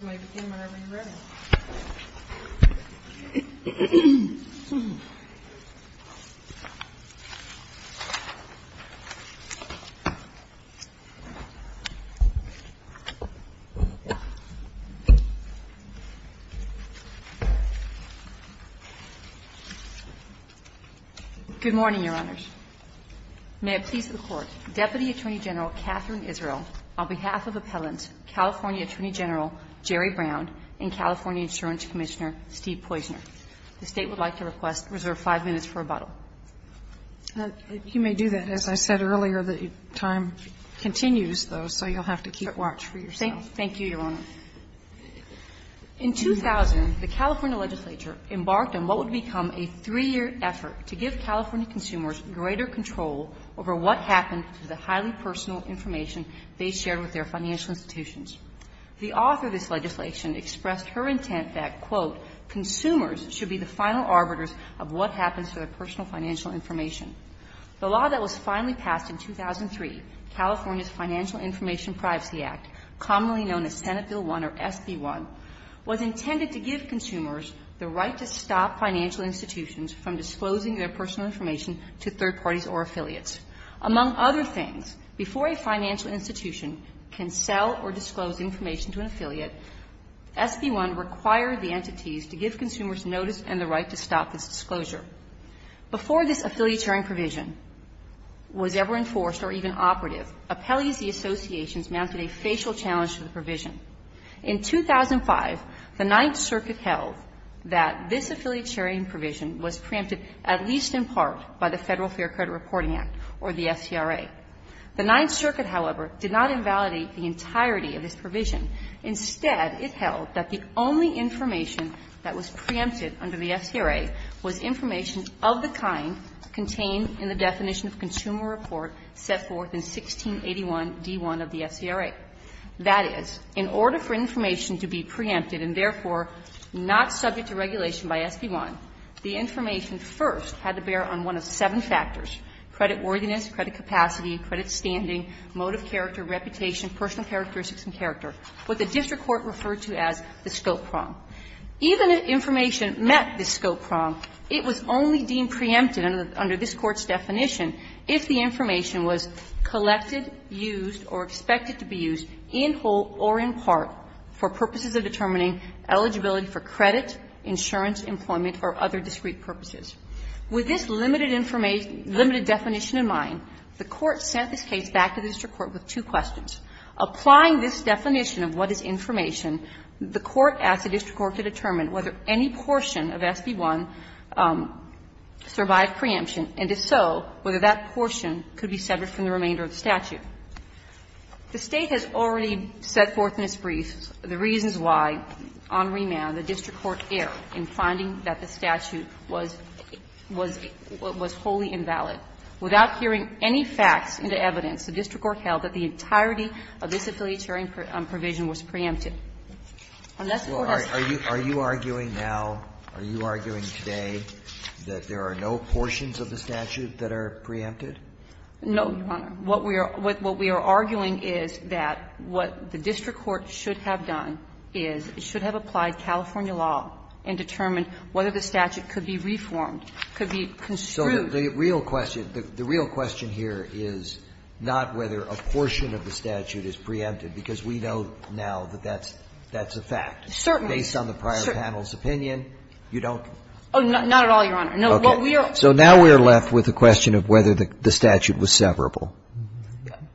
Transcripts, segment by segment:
Good morning, Your Honors. May it please the Court, Deputy Attorney General Katherine Israel, on behalf of Appellant California Attorney General Jerry Brown and California Insurance Commissioner Steve Poizner. The State would like to request reserve five minutes for rebuttal. You may do that. As I said earlier, the time continues, though, so you'll have to keep watch for yourself. Thank you, Your Honor. In 2000, the California legislature embarked on what would become a three-year effort to give California consumers greater control over what happened to the highly personal information they shared with their financial institutions. The author of this legislation expressed her intent that, quote, consumers should be the final arbiters of what happens to their personal financial information. The law that was finally passed in 2003, California's Financial Information Privacy Act, commonly known as Senate Bill 1 or SB 1, was intended to give consumers the right to stop financial institutions from disclosing their personal information to third parties or affiliates. Among other things, before a financial institution can sell or disclose information to an affiliate, SB 1 required the entities to give consumers notice and the right to stop this disclosure. Before this affiliatarian provision was ever enforced or even operative, appellees and associations mounted a facial challenge to the provision. In 2005, the Ninth Circuit held that this affiliatarian provision was preempted at least in part by the Federal Fair Credit Reporting Act or the FCRA. The Ninth Circuit, however, did not invalidate the entirety of this provision. Instead, it held that the only information that was preempted under the FCRA was information of the kind contained in the definition of consumer report set forth in 1681d1 of the FCRA. That is, in order for information to be preempted and therefore not subject to regulation by SB 1, the information first had to bear on one of seven factors, creditworthiness, credit capacity, credit standing, mode of character, reputation, personal characteristics and character, what the district court referred to as the scope prong. Even if information met the scope prong, it was only deemed preempted under this Court's definition if the information was collected, used, or expected to be used in whole or in part for purposes of determining eligibility for credit, insurance, employment, or other discrete purposes. With this limited information, limited definition in mind, the Court sent this case back to the district court with two questions. Applying this definition of what is information, the court asked the district court to determine whether any portion of SB 1 survived preemption, and if so, whether that portion could be severed from the remainder of the statute. The State has already set forth in its briefs the reasons why, on remand, the district court erred in finding that the statute was what was wholly invalid. Without hearing any facts into evidence, the district court held that the entirety of this affiliatory provision was preempted. Unless the court has found that. Roberts, are you arguing now, are you arguing today that there are no portions of the statute that are preempted? No, Your Honor. What we are arguing is that what the district court should have done is it should have applied California law and determined whether the statute could be reformed, could be construed. So the real question, the real question here is not whether a portion of the statute is preempted, because we know now that that's a fact. Certainly. Based on the prior panel's opinion, you don't? Oh, not at all, Your Honor. No. So now we are left with the question of whether the statute was severable.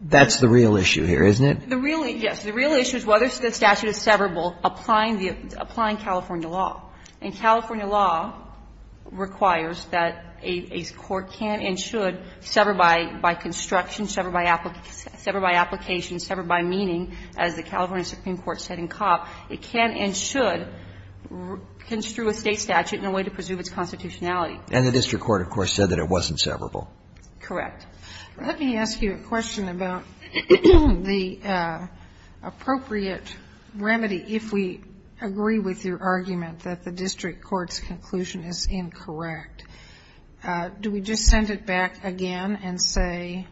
That's the real issue here, isn't it? The real issue, yes. The real issue is whether the statute is severable applying the applying California law. And California law requires that a court can and should sever by construction, sever by application, sever by meaning, as the California Supreme Court said in Cobb, it can and should construe a State statute in a way to preserve its constitutionality. And the district court, of course, said that it wasn't severable. Correct. Let me ask you a question about the appropriate remedy if we agree with your argument that the district court's conclusion is incorrect. Do we just send it back again and say,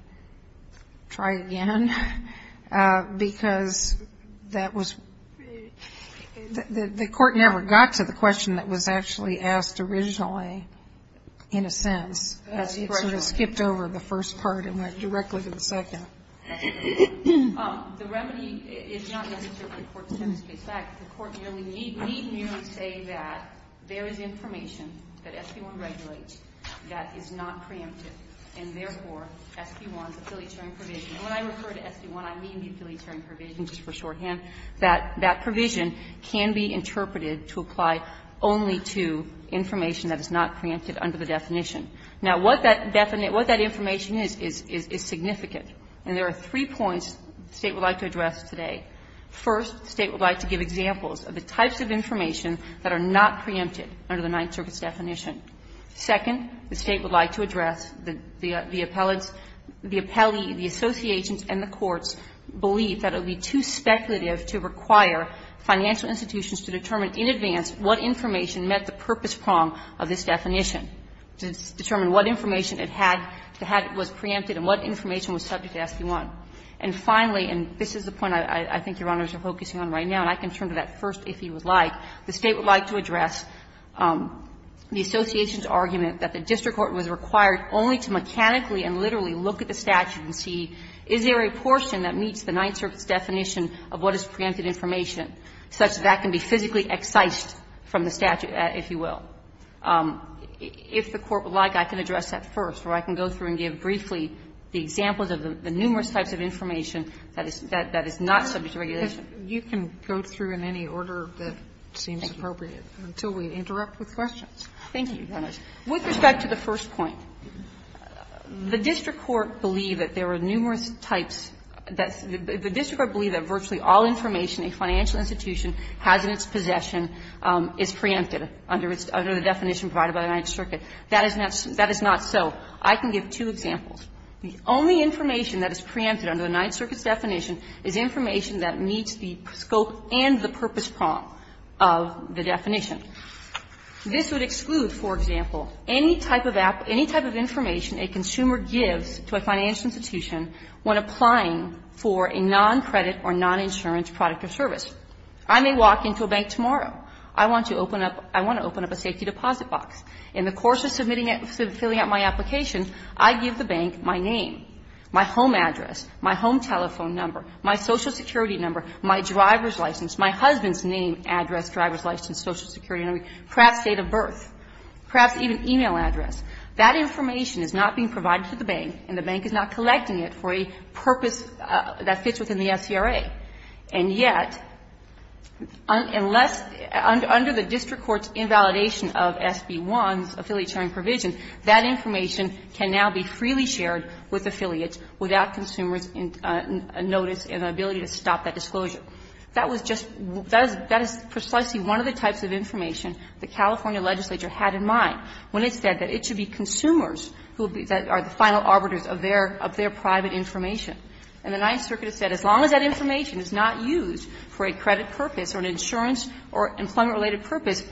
try again, because that was the court never got to the question that was actually asked originally, in a sense, as it sort of skipped over the first part and went directly to the second? The remedy is not necessarily the court's attempt to get back. The court need merely say that there is information that SB1 regulates that is not preemptive, and therefore, SB1's affiliatory provision, when I refer to SB1, I mean the affiliatory provision just for shorthand, that that provision can be interpreted to apply only to information that is not preemptive under the definition. Now, what that definition, what that information is, is significant. And there are three points the State would like to address today. First, the State would like to give examples of the types of information that are not preemptive under the Ninth Circuit's definition. Second, the State would like to address the appellate's, the appellee, the association's and the court's belief that it would be too speculative to require financial institutions to determine in advance what information met the purpose prong of this definition, to determine what information it had to have it was preemptive and what information was subject to SB1. And finally, and this is the point I think Your Honors are focusing on right now, and I can turn to that first if you would like, the State would like to address the association's argument that the district court was required only to mechanically and literally look at the statute and see, is there a portion that meets the Ninth Circuit's definition of what is preemptive information such that that can be physically excised from the statute, if you will. If the Court would like, I can address that first, or I can go through and give briefly the examples of the numerous types of information that is not subject to regulation. Sotomayor, you can go through in any order that seems appropriate until we interrupt with questions. Thank you, Your Honors. With respect to the first point, the district court believed that there were numerous types that the district court believed that virtually all information a financial institution has in its possession is preemptive under the definition provided by the Ninth Circuit. That is not so. I can give two examples. The only information that is preemptive under the Ninth Circuit's definition is information that meets the scope and the purpose prong of the definition. This would exclude, for example, any type of information a consumer gives to a financial institution when applying for a noncredit or noninsurance product or service. I may walk into a bank tomorrow. I want to open up a safety deposit box. In the course of filling out my application, I give the bank my name, my home address, my home telephone number, my Social Security number, my driver's license, my husband's name, address, driver's license, Social Security number, perhaps date of birth, perhaps even e-mail address. That information is not being provided to the bank, and the bank is not collecting it for a purpose that fits within the SCRA. And yet, unless under the district court's invalidation of SB 1's affiliation provision, that information can now be freely shared with affiliates without consumers' notice and the ability to stop that disclosure. That was just one of the types of information the California legislature had in mind when it said that it should be consumers who are the final arbiters of their private information. And the Ninth Circuit has said as long as that information is not used for a credit purpose or an insurance or employment-related purpose,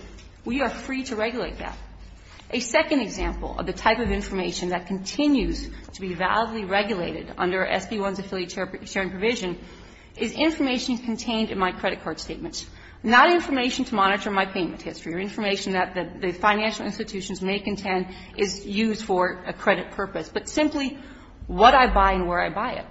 we are free to regulate that. A second example of the type of information that continues to be validly regulated under SB 1's affiliate sharing provision is information contained in my credit card statements, not information to monitor my payment history or information that the financial institutions may contend is used for a credit purpose, but simply what I buy and where I buy it,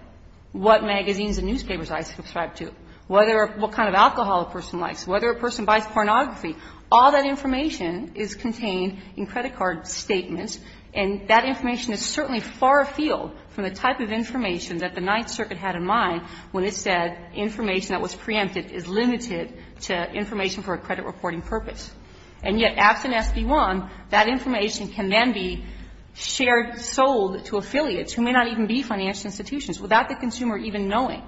what magazines and newspapers I subscribe to, whether or what kind of alcohol a person likes, whether a person buys pornography. All that information is contained in credit card statements, and that information is certainly far afield from the type of information that the Ninth Circuit had in mind when it said information that was preempted is limited to information for a credit reporting purpose. And yet, absent SB 1, that information can then be shared, sold to affiliates who may not even be financial institutions without the consumer even knowing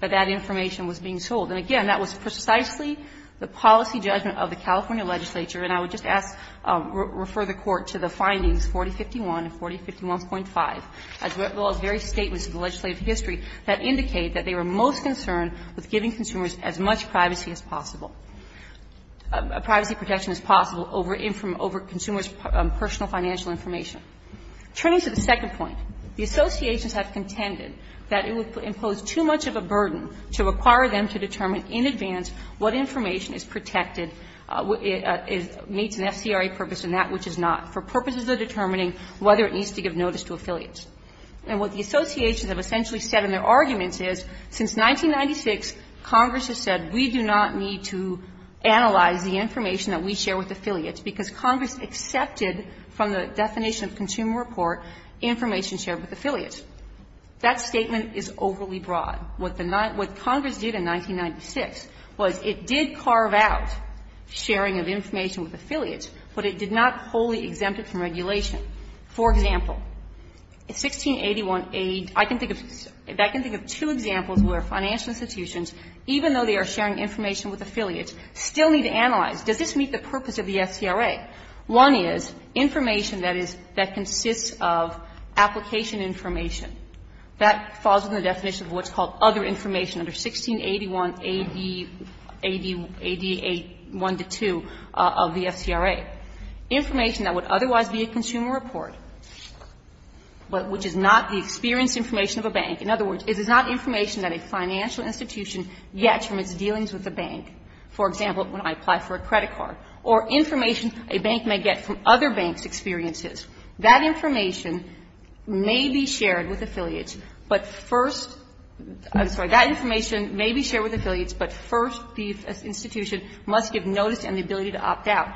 that that information was being sold. And again, that was precisely the policy judgment of the California legislature. And I would just ask to refer the Court to the findings 4051 and 4051.5, as well as various statements in the legislative history that indicate that they were most concerned with giving consumers as much privacy as possible, privacy protection as possible over consumer's personal financial information. Turning to the second point, the associations have contended that it would impose too much of a burden to require them to determine in advance what information is protected, meets an FCRA purpose and that which is not, for purposes of determining whether it needs to give notice to affiliates. And what the associations have essentially said in their arguments is, since 1996, Congress has said we do not need to analyze the information that we share with affiliates, because Congress accepted from the definition of consumer report information shared with affiliates. That statement is overly broad. What Congress did in 1996 was it did carve out sharing of information with affiliates, but it did not wholly exempt it from regulation. For example, 1681A, I can think of two examples where financial institutions, even though they are sharing information with affiliates, still need to analyze, does this meet the purpose of the FCRA? One is information that is, that consists of application information. That falls within the definition of what's called other information under 1681A, AD 1 to 2 of the FCRA. Information that would otherwise be a consumer report, but which is not the experience information of a bank. In other words, it is not information that a financial institution gets from its dealings with a bank. For example, when I apply for a credit card. Or information a bank may get from other banks' experiences. That information may be shared with affiliates, but first, I'm sorry, that information may be shared with affiliates, but first the institution must give notice and the ability to opt out.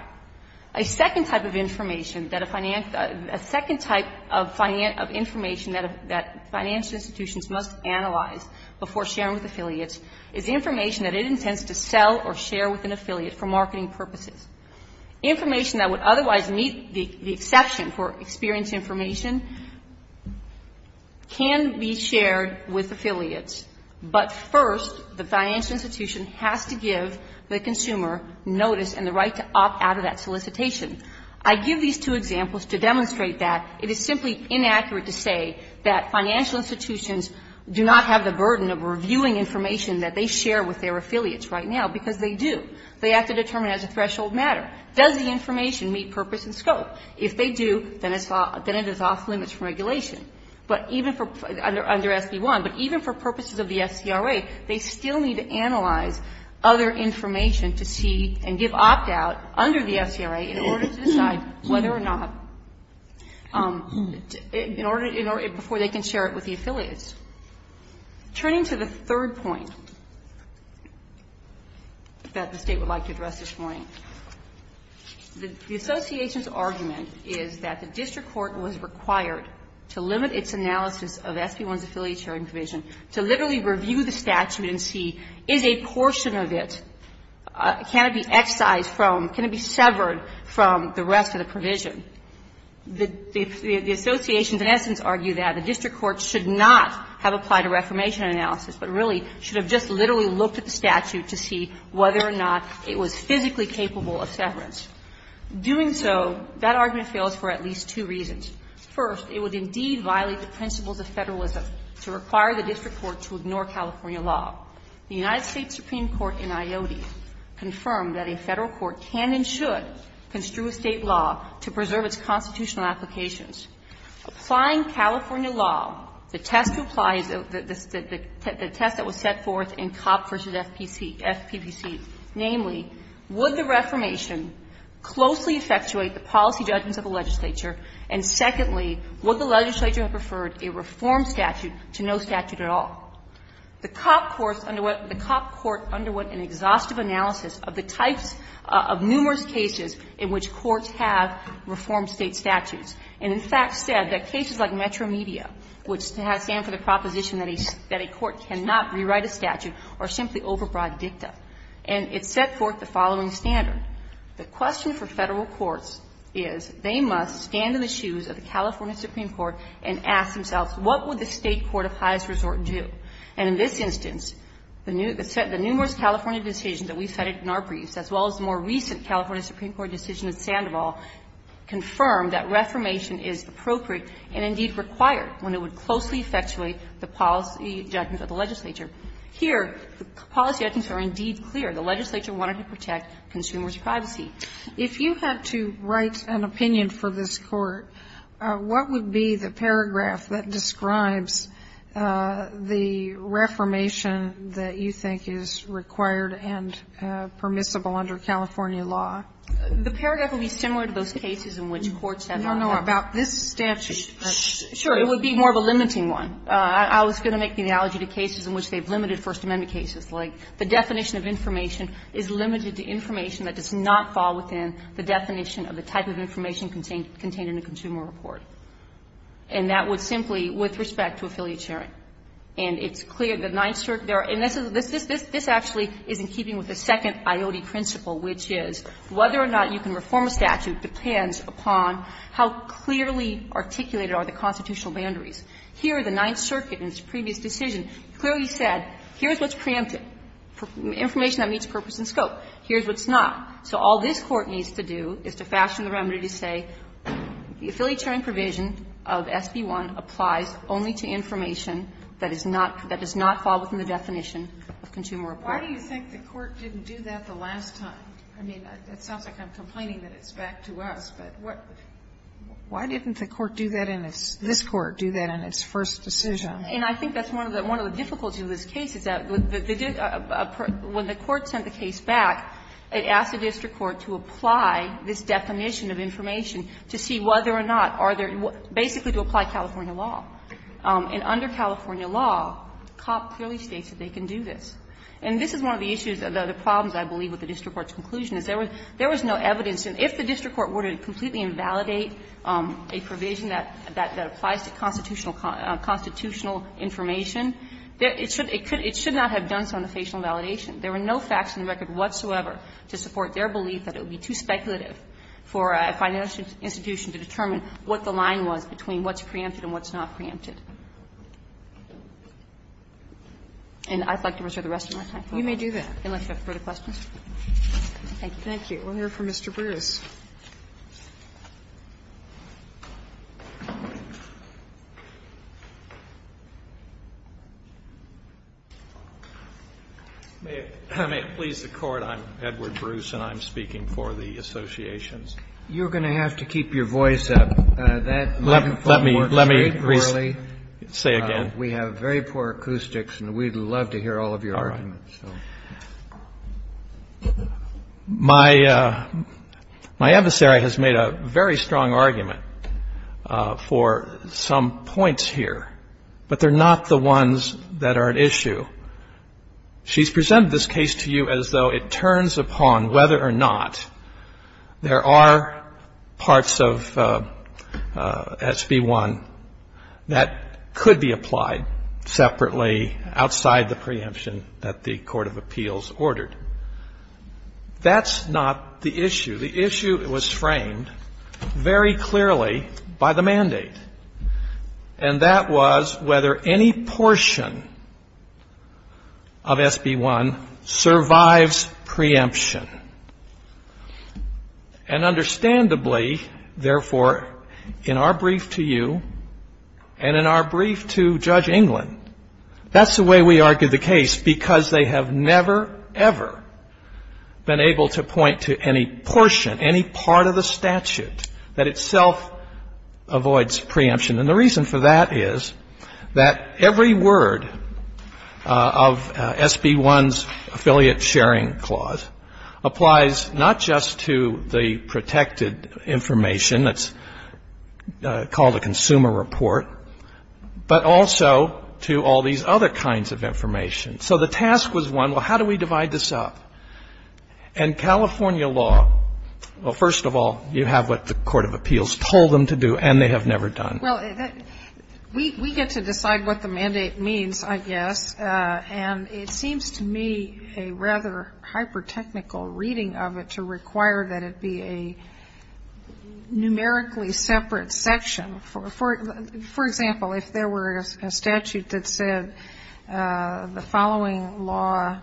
A second type of information that a finance, a second type of information that financial institutions must analyze before sharing with affiliates is information that it intends to sell or share with an affiliate for marketing purposes. Information that would otherwise meet the exception for experience information can be shared with affiliates, but first, the financial institution has to give the consumer notice and the right to opt out of that solicitation. I give these two examples to demonstrate that it is simply inaccurate to say that financial institutions do not have the burden of reviewing information that they share with their affiliates right now, because they do. They determine as a threshold matter. Does the information meet purpose and scope? If they do, then it is off limits from regulation. But even for, under SB 1, but even for purposes of the FCRA, they still need to analyze other information to see and give opt out under the FCRA in order to decide whether or not, in order, before they can share it with the affiliates. Turning to the third point that the State would like to address this morning, the association's argument is that the district court was required to limit its analysis of SB 1's affiliate sharing provision, to literally review the statute and see, is a portion of it, can it be excised from, can it be severed from the rest of the provision? The associations in essence argue that the district court should not have applied a reformation analysis, but really should have just literally looked at the statute to see whether or not it was physically capable of severance. Doing so, that argument fails for at least two reasons. First, it would indeed violate the principles of Federalism to require the district court to ignore California law. The United States Supreme Court in IOTI confirmed that a Federal court can and should construe a State law to preserve its constitutional applications. Applying California law, the test to apply is the test that was set forth in Copp v. FPC, namely, would the reformation closely effectuate the policy judgments of the legislature, and secondly, would the legislature have preferred a reform statute to no statute at all? The Copp court underwent an exhaustive analysis of the types of numerous cases in which courts have reformed State statutes, and in fact said that cases like Metro Media, which stand for the proposition that a court cannot rewrite a statute, are simply overbroad dicta. And it set forth the following standard. The question for Federal courts is they must stand in the shoes of the California Supreme Court and ask themselves, what would the State court of highest resort do? And in this instance, the numerous California decisions that we cited in our briefs, as well as the more recent California Supreme Court decision in Sandoval, confirmed that reformation is appropriate and indeed required when it would closely effectuate the policy judgments of the legislature. Here, the policy judgments are indeed clear. The legislature wanted to protect consumers' privacy. If you had to write an opinion for this Court, what would be the paragraph that describes the reformation that you think is required and permissible under California law? The paragraph would be similar to those cases in which courts have not had. No, no. About this statute. Sure. It would be more of a limiting one. I was going to make the analogy to cases in which they've limited First Amendment cases, like the definition of information is limited to information that does not fall within the definition of the type of information contained in a consumer report. And that would simply, with respect to affiliate sharing. And it's clear the Ninth Circuit, and this is, this actually is in keeping with the second IOD principle, which is whether or not you can reform a statute depends upon how clearly articulated are the constitutional boundaries. Here, the Ninth Circuit in its previous decision clearly said, here's what's preemptive, information that meets purpose and scope. Here's what's not. So all this Court needs to do is to fashion the remedy to say, the affiliate sharing provision of SB 1 applies only to information that is not, that does not fall within the definition of consumer report. Why do you think the Court didn't do that the last time? I mean, it sounds like I'm complaining that it's back to us, but what, why didn't the Court do that in its, this Court do that in its first decision? And I think that's one of the, one of the difficulties of this case is that, when the Court sent the case back, it asked the district court to apply this definition of information to see whether or not, are there, basically to apply California law. And under California law, COP clearly states that they can do this. And this is one of the issues, the problems, I believe, with the district court's conclusion is there was no evidence, and if the district court were to completely invalidate a provision that applies to constitutional, constitutional information, it should not have done so in the facial validation. There were no facts in the record whatsoever to support their belief that it would be too speculative for a financial institution to determine what the line was between what's preempted and what's not preempted. And I'd like to reserve the rest of my time. You may do that, unless you have further questions. Thank you. We'll hear from Mr. Bruce. May it please the Court, I'm Edward Bruce, and I'm speaking for the associations. You're going to have to keep your voice up. That microphone works very poorly. Let me say again. We have very poor acoustics, and we'd love to hear all of your arguments. All right. My adversary has made a very strong argument for some points here, but they're not the ones that are at issue. She's presented this case to you as though it turns upon whether or not there are parts of SB 1 that could be applied separately outside the preemption that the Court has considered. That's not the issue. The issue was framed very clearly by the mandate, and that was whether any portion of SB 1 survives preemption. And understandably, therefore, in our brief to you and in our brief to Judge England, that's the way we argue the case, because they have never, ever been able to point to any portion, any part of the statute that itself avoids preemption. And the reason for that is that every word of SB 1's affiliate sharing clause applies not just to the protected information that's called a consumer report, but also to the other kinds of information. So the task was one, well, how do we divide this up? And California law, well, first of all, you have what the court of appeals told them to do, and they have never done. Well, we get to decide what the mandate means, I guess. And it seems to me a rather hyper-technical reading of it to require that it be a numerically separate section. For example, if there were a statute that said the following law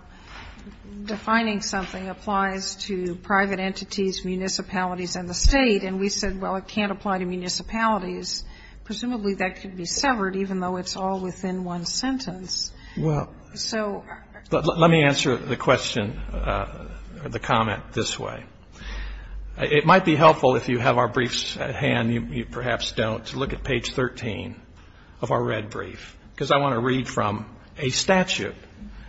defining something applies to private entities, municipalities, and the State, and we said, well, it can't apply to municipalities, presumably that could be severed, even though it's all within one sentence. So ---- Let me answer the question, the comment, this way. It might be helpful if you have our briefs at hand, you perhaps don't, to look at page 13 of our red brief, because I want to read from a statute.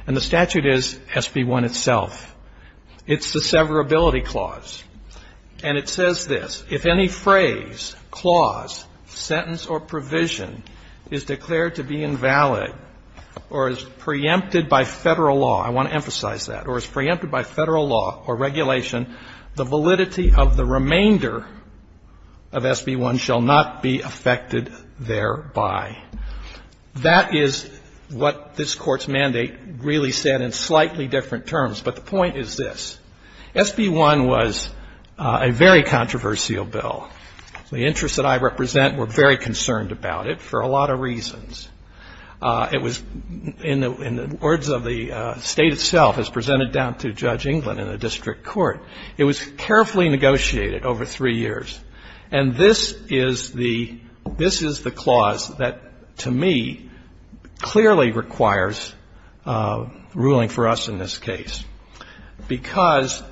And the statute is SB 1 itself. It's the severability clause. And it says this. If any phrase, clause, sentence, or provision is declared to be invalid or is preempted by Federal law, I want to emphasize that, or is preempted by Federal law or regulation, the validity of the remainder of SB 1 shall not be affected thereby. That is what this Court's mandate really said in slightly different terms. But the point is this. SB 1 was a very controversial bill. The interests that I represent were very concerned about it for a lot of reasons. It was, in the words of the State itself, as presented down to Judge England in the district court, it was carefully negotiated over three years. And this is the clause that, to me, clearly requires ruling for us in this case, because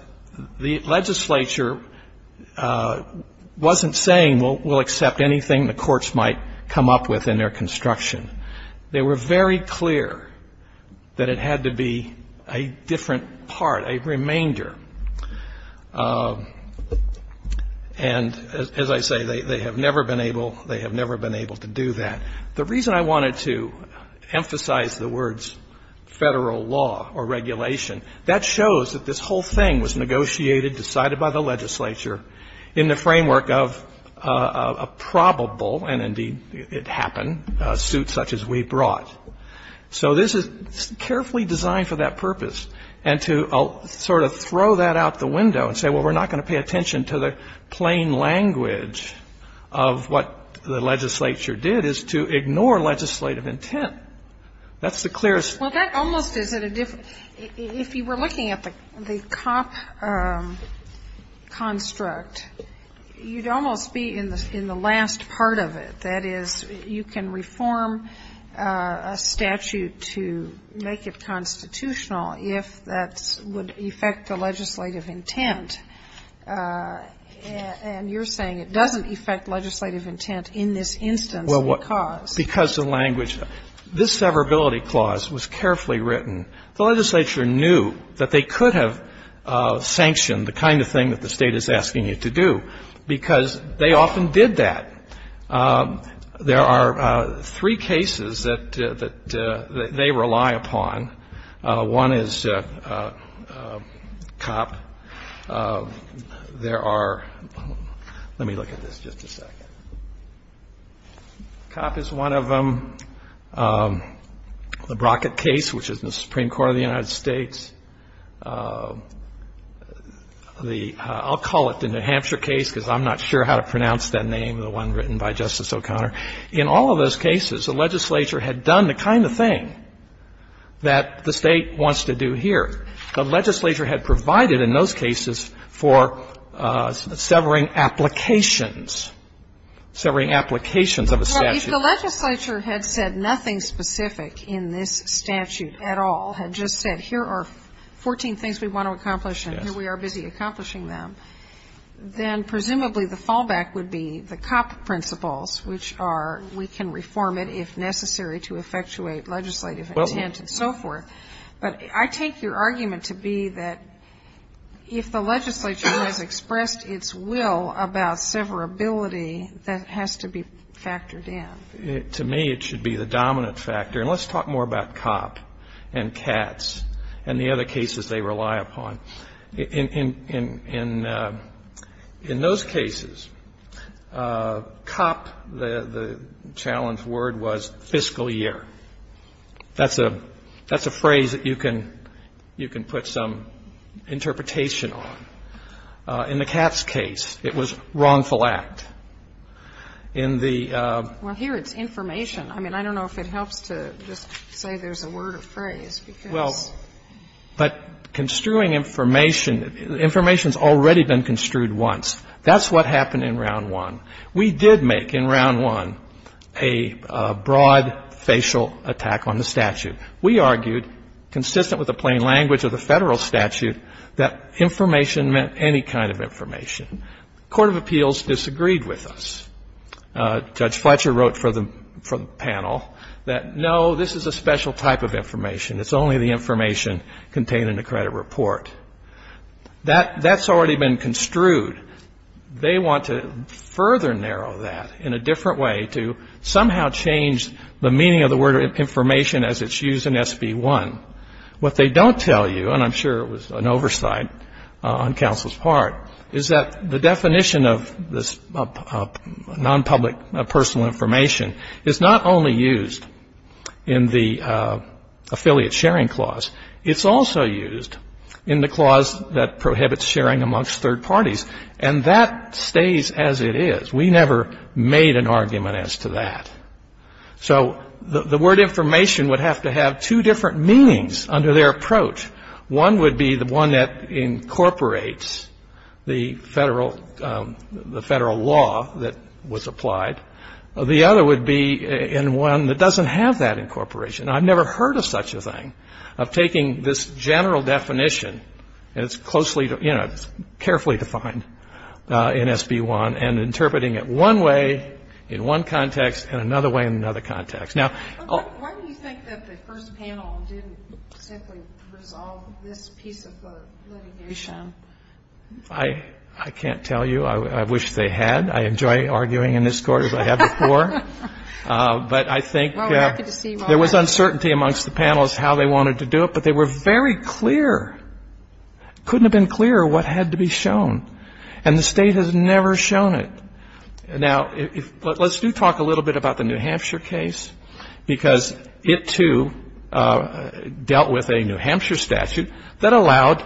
the legislature wasn't saying we'll accept anything the courts might come up with in their construction. They were very clear that it had to be a different part, a remainder. And as I say, they have never been able to do that. The reason I wanted to emphasize the words Federal law or regulation, that shows that this whole thing was negotiated, decided by the legislature in the framework of a probable, and indeed it happened, suit such as we brought. So this is carefully designed for that purpose. And to sort of throw that out the window and say, well, we're not going to pay attention to the plain language of what the legislature did is to ignore legislative intent. That's the clearest thing. Sotomayor, if you were looking at the COP construct, you'd almost be in the last part of it. That is, you can reform a statute to make it constitutional if that would affect the legislative intent. And you're saying it doesn't affect legislative intent in this instance because the language. This severability clause was carefully written. The legislature knew that they could have sanctioned the kind of thing that the State is asking you to do because they often did that. There are three cases that they rely upon. One is COP. There are let me look at this just a second. COP is one of them. The Brockett case, which is in the Supreme Court of the United States. The, I'll call it the New Hampshire case because I'm not sure how to pronounce that name, the one written by Justice O'Connor. In all of those cases, the legislature had done the kind of thing that the State wants to do here. The legislature had provided in those cases for severing applications, severing applications of a statute. Well, if the legislature had said nothing specific in this statute at all, had just said here are 14 things we want to accomplish and here we are busy accomplishing them, then presumably the fallback would be the COP principles, which are we can reform it if necessary to effectuate legislative intent and so forth. But I take your argument to be that if the legislature has expressed its will about severability, that has to be factored in. To me, it should be the dominant factor. And let's talk more about COP and CATS and the other cases they rely upon. In those cases, COP, the challenge word was fiscal year. That's a phrase that you can put some interpretation on. In the CATS case, it was wrongful act. In the ---- Well, here it's information. I mean, I don't know if it helps to just say there's a word or phrase because ---- Well, but construing information, information has already been construed once. That's what happened in Round 1. We did make in Round 1 a broad facial attack on the statute. We argued, consistent with the plain language of the Federal statute, that information meant any kind of information. Court of Appeals disagreed with us. Judge Fletcher wrote for the panel that, no, this is a special type of information. It's only the information contained in the credit report. That's already been construed. They want to further narrow that in a different way to somehow change the meaning of the information as it's used in SB 1. What they don't tell you, and I'm sure it was an oversight on counsel's part, is that the definition of this nonpublic personal information is not only used in the affiliate sharing clause. It's also used in the clause that prohibits sharing amongst third parties. And that stays as it is. We never made an argument as to that. So the word information would have to have two different meanings under their approach. One would be the one that incorporates the Federal law that was applied. The other would be in one that doesn't have that incorporation. I've never heard of such a thing, of taking this general definition, and it's closely, you know, carefully defined in SB 1, and interpreting it one way in one context and another way in another context. Now why do you think that the first panel didn't simply resolve this piece of litigation? I can't tell you. I wish they had. I enjoy arguing in this court as I have before. But I think there was uncertainty amongst the panels how they wanted to do it, but they were very clear. Couldn't have been clearer what had to be shown, and the State has never shown it. Now, let's do talk a little bit about the New Hampshire case, because it too dealt with a New Hampshire statute that allowed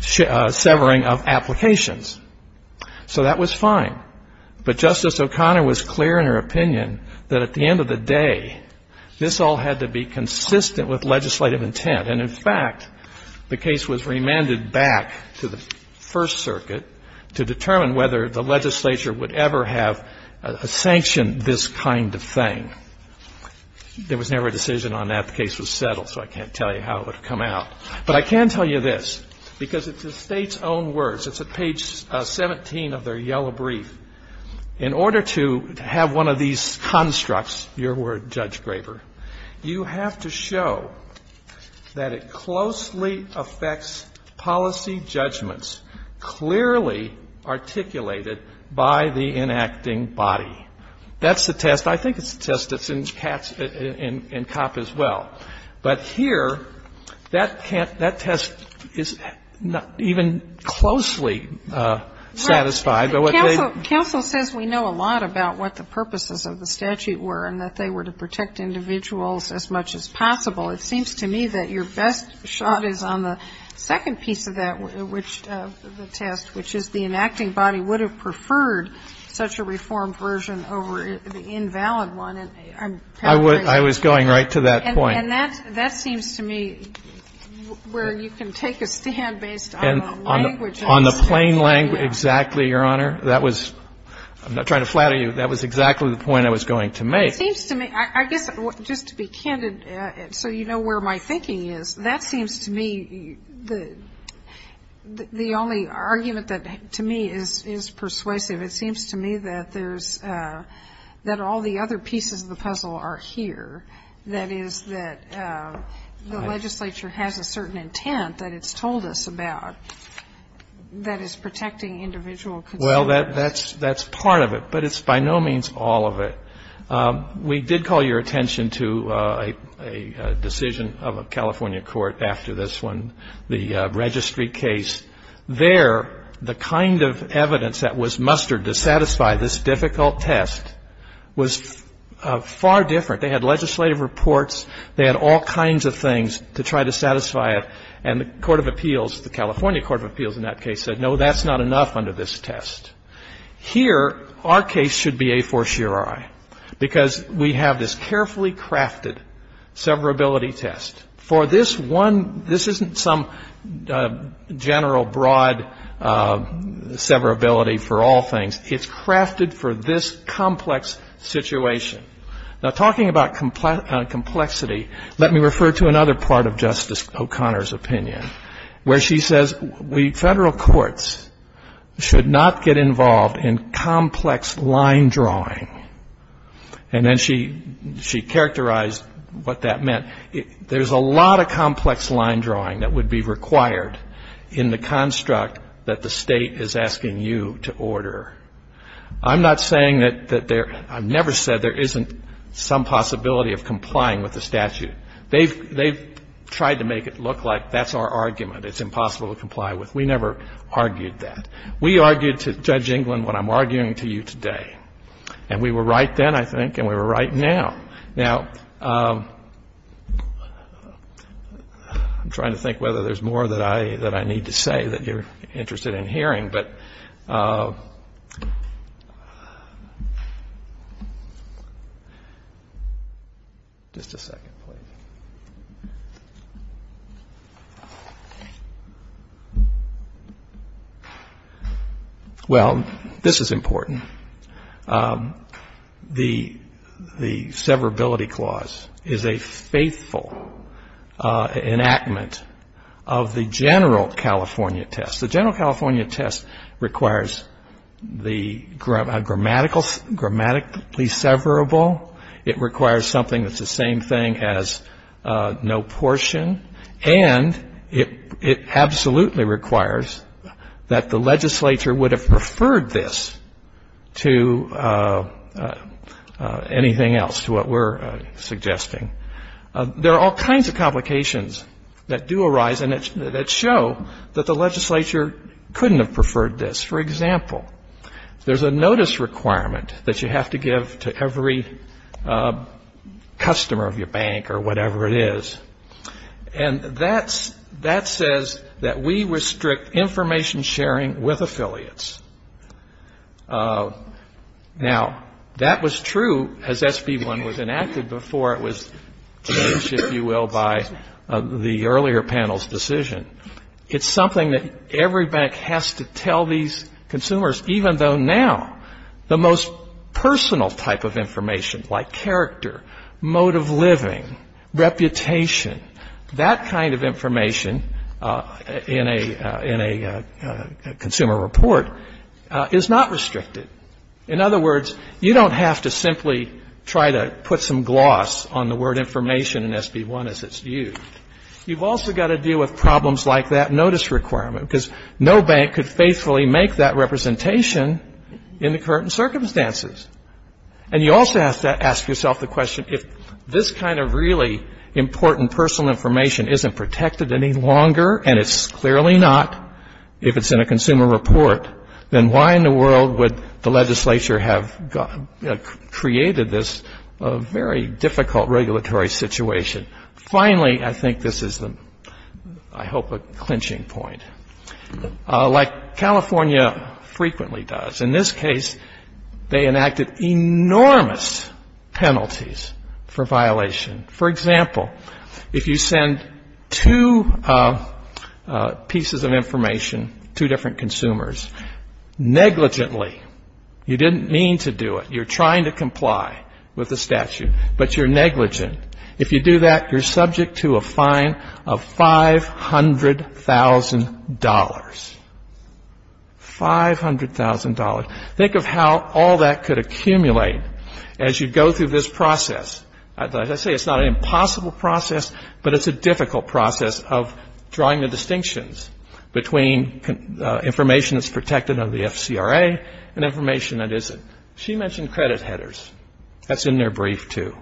severing of applications. So that was fine. But Justice O'Connor was clear in her opinion that at the end of the day, this all had to be consistent with legislative intent. And in fact, the case was remanded back to the First Circuit to determine whether the legislature would ever have sanctioned this kind of thing. There was never a decision on that. The case was settled, so I can't tell you how it would have come out. But I can tell you this, because it's the State's own words. It's at page 17 of their yellow brief. In order to have one of these constructs, your word, Judge Graver, you have to show that it closely affects policy judgments clearly articulated by the enacting body. That's the test. I think it's the test that's in Katz and Kopp as well. But here, that test is not even closely satisfied. Counsel says we know a lot about what the purposes of the statute were and that they were to protect individuals as much as possible. It seems to me that your best shot is on the second piece of that, which the test, which is the enacting body would have preferred such a reformed version over the invalid one. And I'm paraphrasing. I was going right to that point. And that seems to me where you can take a stand based on the language of the statute. On the plain language, exactly, Your Honor. That was — I'm not trying to flatter you. That was exactly the point I was going to make. It seems to me — I guess just to be candid, so you know where my thinking is, that seems to me the only argument that to me is persuasive, it seems to me that there's — that all the other pieces of the puzzle are here, that is, that the legislature has a certain intent that it's told us about. And it seems to me that there's no other piece of the puzzle that is protecting individual consent. Well, that's part of it. But it's by no means all of it. We did call your attention to a decision of a California court after this one, the registry case. There, the kind of evidence that was mustered to satisfy this difficult test was far different. They had legislative reports. They had all kinds of things to try to satisfy it. And the court of appeals, the California court of appeals in that case said, no, that's not enough under this test. Here, our case should be a fortiori because we have this carefully crafted severability test. For this one, this isn't some general broad severability for all things. It's crafted for this complex situation. Now, talking about complexity, let me refer to another part of Justice O'Connor's opinion, where she says, we federal courts should not get involved in complex line drawing. And then she characterized what that meant. There's a lot of complex line drawing that would be required in the construct that the state is asking you to order. I'm not saying that there — I've never said there isn't some possibility of complying with the statute. They've tried to make it look like that's our argument. It's impossible to comply with. We never argued that. We argued to Judge England what I'm arguing to you today. And we were right then, I think, and we were right now. Now, I'm trying to think whether there's more that I need to say that you're interested in hearing, but — just a second, please. Well, this is important. The Severability Clause is a faithful enactment of the general California test. The general California test requires the grammatically severable. It requires something that's the same thing as no portion. And it absolutely requires that the legislature would have preferred this to anything else, to what we're suggesting. There are all kinds of complications that do arise and that show that the legislature couldn't have preferred this. For example, there's a notice requirement that you have to give to every customer of your bank or whatever it is. And that says that we restrict information sharing with affiliates. Now, that was true, as SB 1 was enacted before it was changed, if you will, by the earlier panel's decision. It's something that every bank has to tell these consumers, even though now the most personal type of information like character, mode of living, reputation, that kind of information in a consumer report is not restricted. In other words, you don't have to simply try to put some gloss on the word information in SB 1 as it's used. You've also got to deal with problems like that notice requirement, because no bank could faithfully make that representation in the current circumstances. And you also have to ask yourself the question, if this kind of really important personal information isn't protected any longer, and it's clearly not if it's in a consumer report, then why in the world would the legislature have created this very difficult regulatory situation? Finally, I think this is, I hope, a clinching point. Like California frequently does, in this case, they enacted enormous penalties for violation. For example, if you send two pieces of information to different consumers negligently, you didn't mean to do it, you're trying to comply with the statute, but you're negligent, if you do that, you're subject to a fine of $500,000. $500,000. Think of how all that could accumulate as you go through this process. As I say, it's not an impossible process, but it's a difficult process of drawing the distinctions between information that's protected under the FCRA and information that isn't. She mentioned credit headers. That's in their brief, too.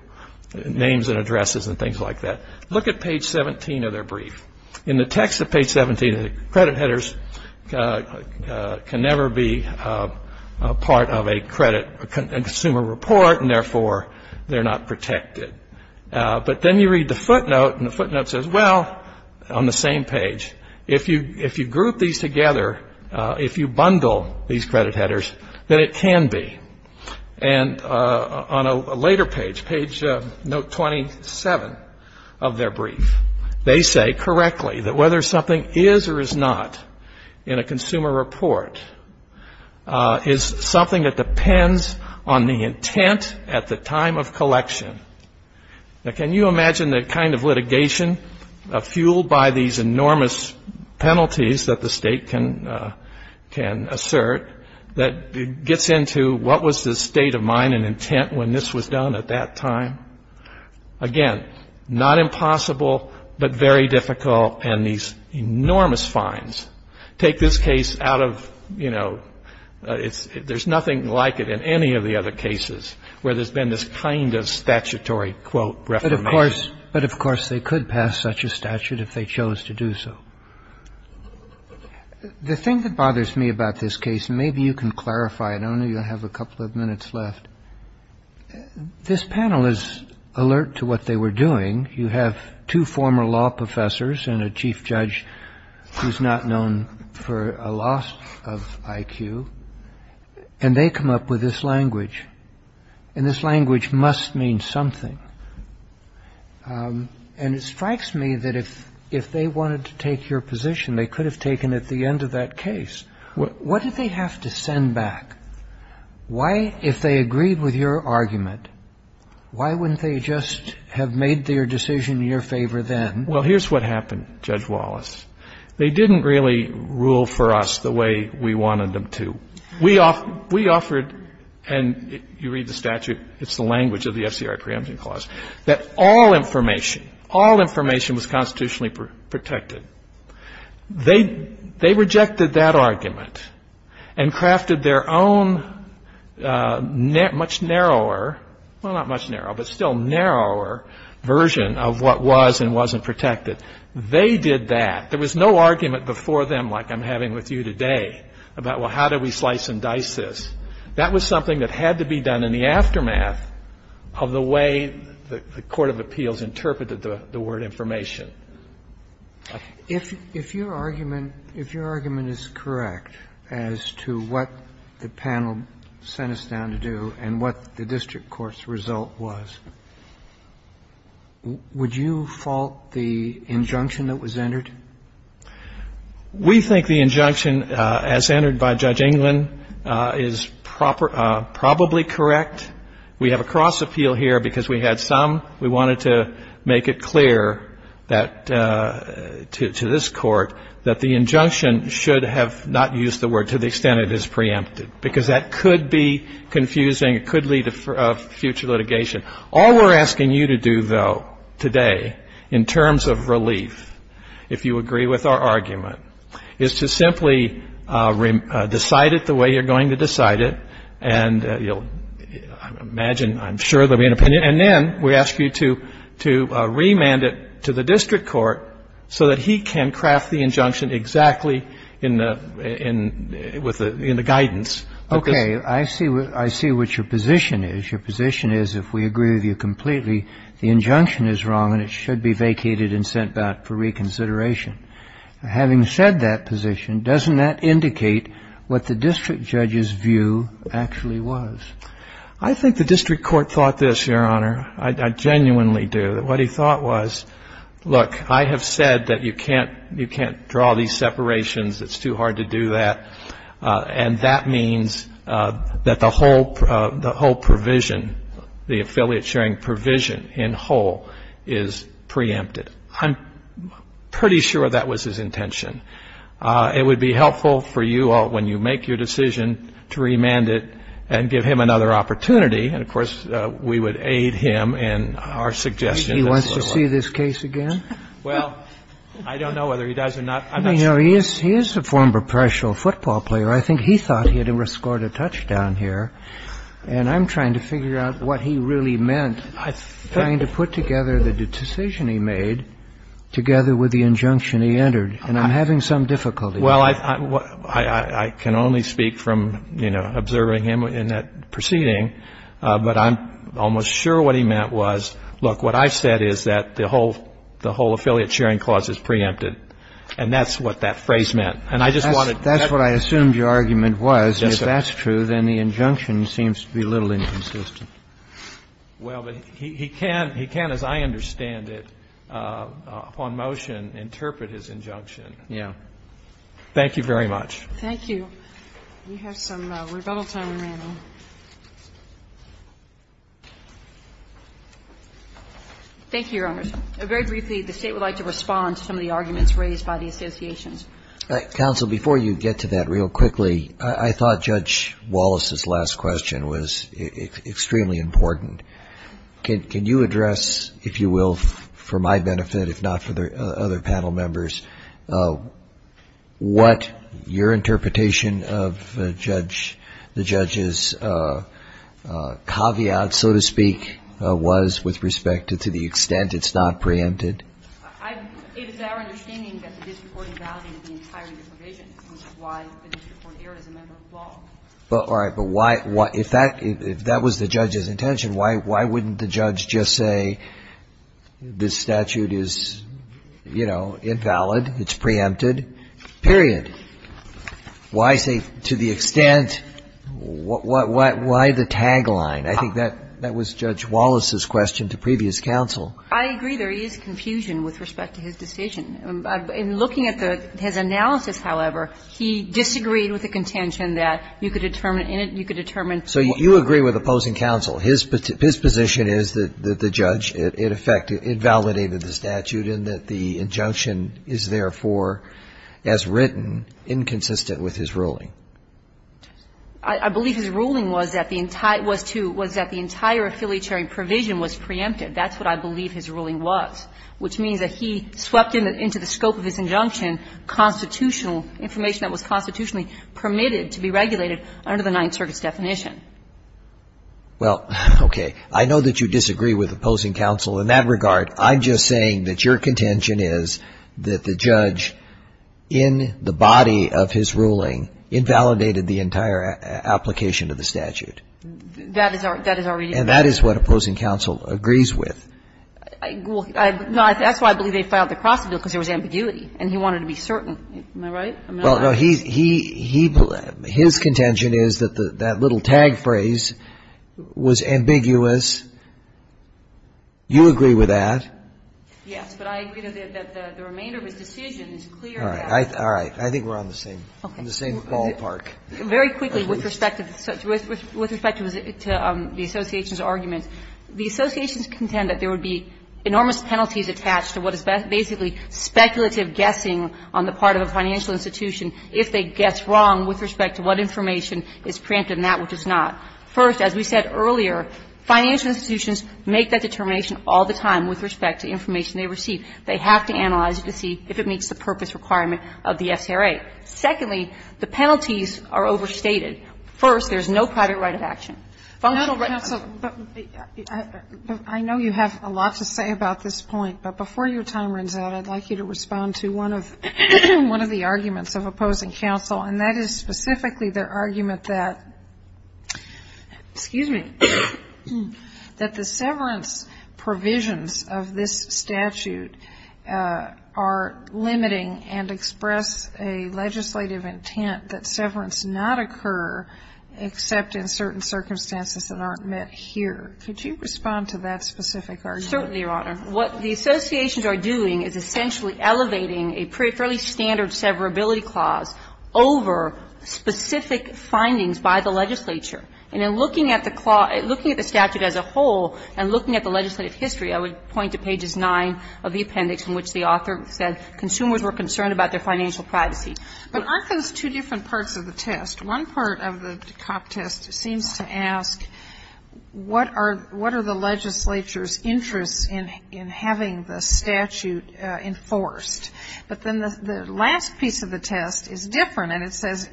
Names and addresses and things like that. Look at page 17 of their brief. In the text of page 17, credit headers can never be part of a consumer report, and therefore they're not protected. But then you read the footnote, and the footnote says, well, on the same page, if you group these together, if you bundle these credit headers, then it can be. And on a later page, page note 27 of their brief, they say correctly that whether something is or is not in a consumer report is something that depends on the intent at the time of collection. Now, can you imagine the kind of litigation fueled by these enormous penalties that the state can assert that gets into what was the state of mind and intent when this was done at that time? Again, not impossible, but very difficult, and these enormous fines take this case out of, you know, there's nothing like it in any of the other cases where there's been this kind of statutory, quote, reformation. But, of course, they could pass such a statute if they chose to do so. The thing that bothers me about this case, and maybe you can clarify it. I know you have a couple of minutes left. This panel is alert to what they were doing. You have two former law professors and a chief judge who's not known for a loss of IQ, and they come up with this language, and this language must mean something. And it strikes me that if they wanted to take your position, they could have taken it at the end of that case. What did they have to send back? Why, if they agreed with your argument, why wouldn't they just have made their decision in your favor then? Well, here's what happened, Judge Wallace. They didn't really rule for us the way we wanted them to. We offered, and you read the statute, it's the language of the FCRI preemption clause, that all information, all information was constitutionally protected. They rejected that argument and crafted their own much narrower, well, not much narrower, but still narrower version of what was and wasn't protected. They did that. There was no argument before them like I'm having with you today about, well, how do we slice and dice this? That was something that had to be done in the aftermath of the way the court of appeals interpreted the word information. If your argument is correct as to what the panel sent us down to do and what the district court's result was, would you fault the injunction that was entered? We think the injunction as entered by Judge England is probably correct. We have a cross appeal here because we had some. We wanted to make it clear that, to this Court, that the injunction should have not used the word to the extent it is preempted, because that could be confusing. It could lead to future litigation. All we're asking you to do, though, today, in terms of relief, if you agree with our argument, is to simply decide it the way you're going to decide it. And you'll imagine, I'm sure, there will be an opinion. And then we ask you to remand it to the district court so that he can craft the injunction exactly in the guidance. Okay. I see what your position is. Your position is, if we agree with you completely, the injunction is wrong and it should be vacated and sent back for reconsideration. Having said that position, doesn't that indicate what the district judge's view actually was? I think the district court thought this, Your Honor. I genuinely do. What he thought was, look, I have said that you can't draw these separations. It's too hard to do that. And that means that the whole provision, the affiliate sharing provision in whole is preempted. I'm pretty sure that was his intention. It would be helpful for you all, when you make your decision, to remand it and give him another opportunity. And, of course, we would aid him in our suggestion. He wants to see this case again? Well, I don't know whether he does or not. He is a former professional football player. I think he thought he had scored a touchdown here. And I'm trying to figure out what he really meant, trying to put together the decision he made together with the injunction he entered. And I'm having some difficulty. Well, I can only speak from, you know, observing him in that proceeding. But I'm almost sure what he meant was, look, what I said is that the whole affiliate sharing clause is preempted. And that's what that phrase meant. And I just wanted to make sure. That's what I assumed your argument was. Yes, sir. And if that's true, then the injunction seems to be a little inconsistent. Well, but he can't, as I understand it, upon motion, interpret his injunction. Yeah. Thank you very much. Thank you. We have some rebuttal time remaining. Thank you, Your Honors. Very briefly, the State would like to respond to some of the arguments raised by the associations. Counsel, before you get to that, real quickly, I thought Judge Wallace's last question was extremely important. Can you address, if you will, for my benefit, if not for the other panel members, what your interpretation of the judge's caveat, so to speak, was with respect to the extent it's not preempted? It is our understanding that the district court invalidated the entire disprovision, which is why the district court erred as a member of the law. All right. But why — if that was the judge's intention, why wouldn't the judge just say this statute is, you know, invalid, it's preempted, period? Why say to the extent — why the tagline? I think that was Judge Wallace's question to previous counsel. I agree there is confusion with respect to his decision. In looking at his analysis, however, he disagreed with the contention that you could determine — you could determine — So you agree with opposing counsel. His position is that the judge, in effect, invalidated the statute and that the injunction is, therefore, as written, inconsistent with his ruling. I believe his ruling was that the entire — was to — was that the entire affiliatory provision was preempted. That's what I believe his ruling was, which means that he swept into the scope of his injunction constitutional information that was constitutionally permitted to be regulated under the Ninth Circuit's definition. Well, okay. I know that you disagree with opposing counsel in that regard. I'm just saying that your contention is that the judge, in the body of his ruling, invalidated the entire application of the statute. That is our — that is our reading. And that is what opposing counsel agrees with. Well, I — no, that's why I believe they filed the cross-appeal, because there was ambiguity, and he wanted to be certain. Am I right? Well, no, he — he — his contention is that the — that little tag phrase was ambiguous. You agree with that. Yes, but I agree that the remainder of his decision is clear that — All right. All right. I think we're on the same — on the same ballpark. Very quickly, with respect to the association's argument, the associations contend that there would be enormous penalties attached to what is basically speculative guessing on the part of a financial institution if they guess wrong with respect to what information is preemptive and that which is not. First, as we said earlier, financial institutions make that determination all the time with respect to information they receive. They have to analyze it to see if it meets the purpose requirement of the FCRA. Secondly, the penalties are overstated. First, there's no private right of action. Functional right of action. But, counsel, I know you have a lot to say about this point, but before your time runs out, I'd like you to respond to one of the arguments of opposing counsel, and that is specifically their argument that — excuse me — that the severance not occur except in certain circumstances that aren't met here. Could you respond to that specific argument? Certainly, Your Honor. What the associations are doing is essentially elevating a fairly standard severability clause over specific findings by the legislature. And in looking at the — looking at the statute as a whole and looking at the legislative history, I would point to pages 9 of the appendix in which the author said consumers were concerned about their financial privacy. But aren't those two different parts of the test? One part of the test seems to ask what are the legislature's interests in having the statute enforced? But then the last piece of the test is different, and it says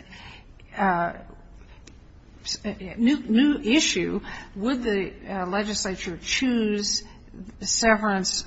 new issue, would the Yes,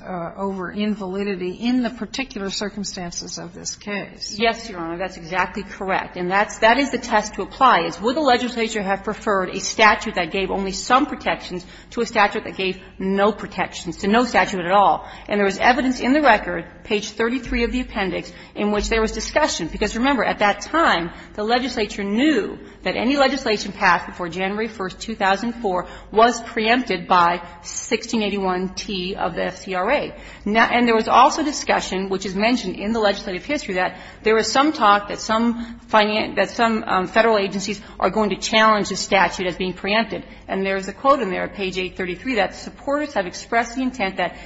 Your Honor. That's exactly correct. And that's — that is the test to apply, is would the legislature have preferred a statute that gave only some protections to a statute that gave no protections to no statute at all. And there was evidence in the record, page 33 of the appendix, in which there was discussion. Because, remember, at that time, the legislature knew that any legislation passed before January 1, 2004 was preempted by 1681t of the FCRA. And there was also discussion, which is mentioned in the legislative history, that there was some talk that some federal agencies are going to challenge the statute as being preempted. And there is a quote in there, page 833, that supporters have expressed the intent that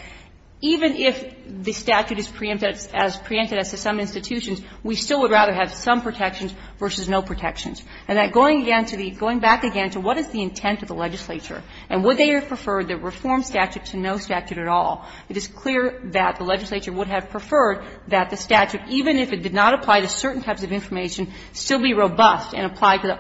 even if the statute is preempted as to some institutions, we still would rather have some protections versus no protections. And that going again to the — going back again to what is the intent of the legislature and would they have preferred the reform statute to no statute at all, it is clear that the legislature would have preferred that the statute, even if it did not apply to certain types of information, still be robust and apply to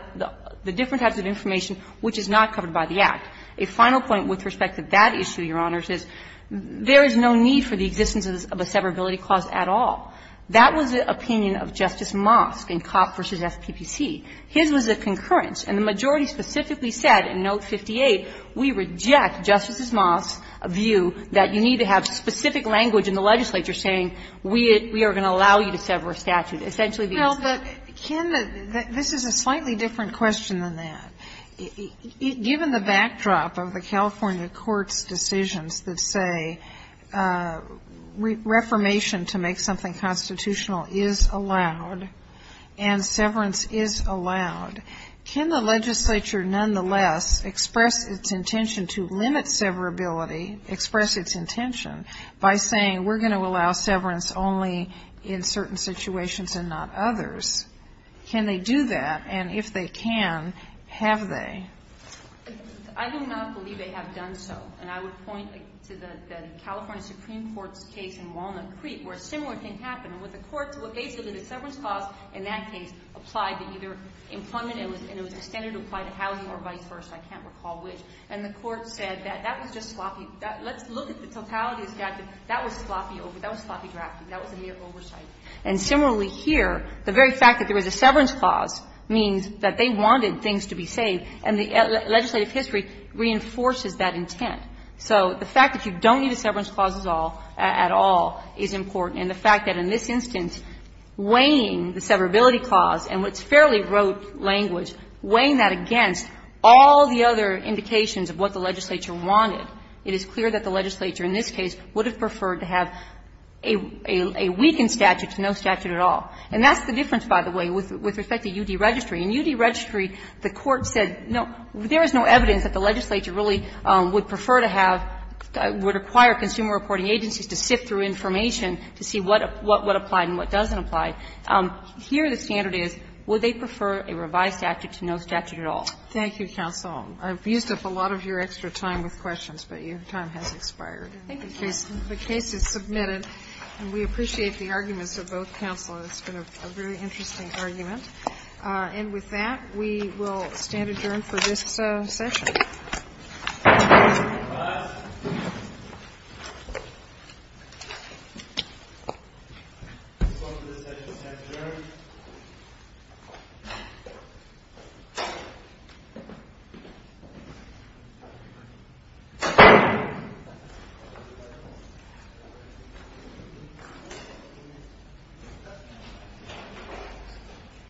the different types of information which is not covered by the Act. A final point with respect to that issue, Your Honors, is there is no need for the existence of a severability clause at all. That was the opinion of Justice Mosk in Kopp v. FPPC. His was a concurrence, and the majority specifically said in Note 58, we reject Justice Mosk's view that you need to have specific language in the legislature saying we are going to allow you to sever a statute. Essentially, the answer is no. Sotomayor, this is a slightly different question than that. Given the backdrop of the California courts' decisions that say reformation to make something constitutional is allowed and severance is allowed, can the legislature nonetheless express its intention to limit severability, express its intention by saying we are going to allow severance only in certain situations and not others? Can they do that? And if they can, have they? I do not believe they have done so. And I would point to the California Supreme Court's case in Walnut Creek where a similar thing happened with the courts. Basically, the severance clause in that case applied to either employment and it was extended to apply to housing or vice versa. I can't recall which. And the Court said that that was just sloppy. Let's look at the totality of the statute. That was sloppy. That was sloppy drafting. That was a mere oversight. And similarly here, the very fact that there was a severance clause means that they So the fact that you don't need a severance clause at all is important. And the fact that in this instance, weighing the severability clause and what's fairly rote language, weighing that against all the other indications of what the legislature wanted, it is clear that the legislature in this case would have preferred to have a weakened statute, no statute at all. And that's the difference, by the way, with respect to U.D. Registry. In U.D. Registry, the Court said, no, there is no evidence that the legislature really would prefer to have, would require consumer reporting agencies to sift through information to see what applied and what doesn't apply. Here the standard is, would they prefer a revised statute to no statute at all? Thank you, counsel. I've used up a lot of your extra time with questions, but your time has expired. I think the case is submitted, and we appreciate the arguments of both counsels. It's been a very interesting argument. And with that, we will stand adjourned for this session. Thank you.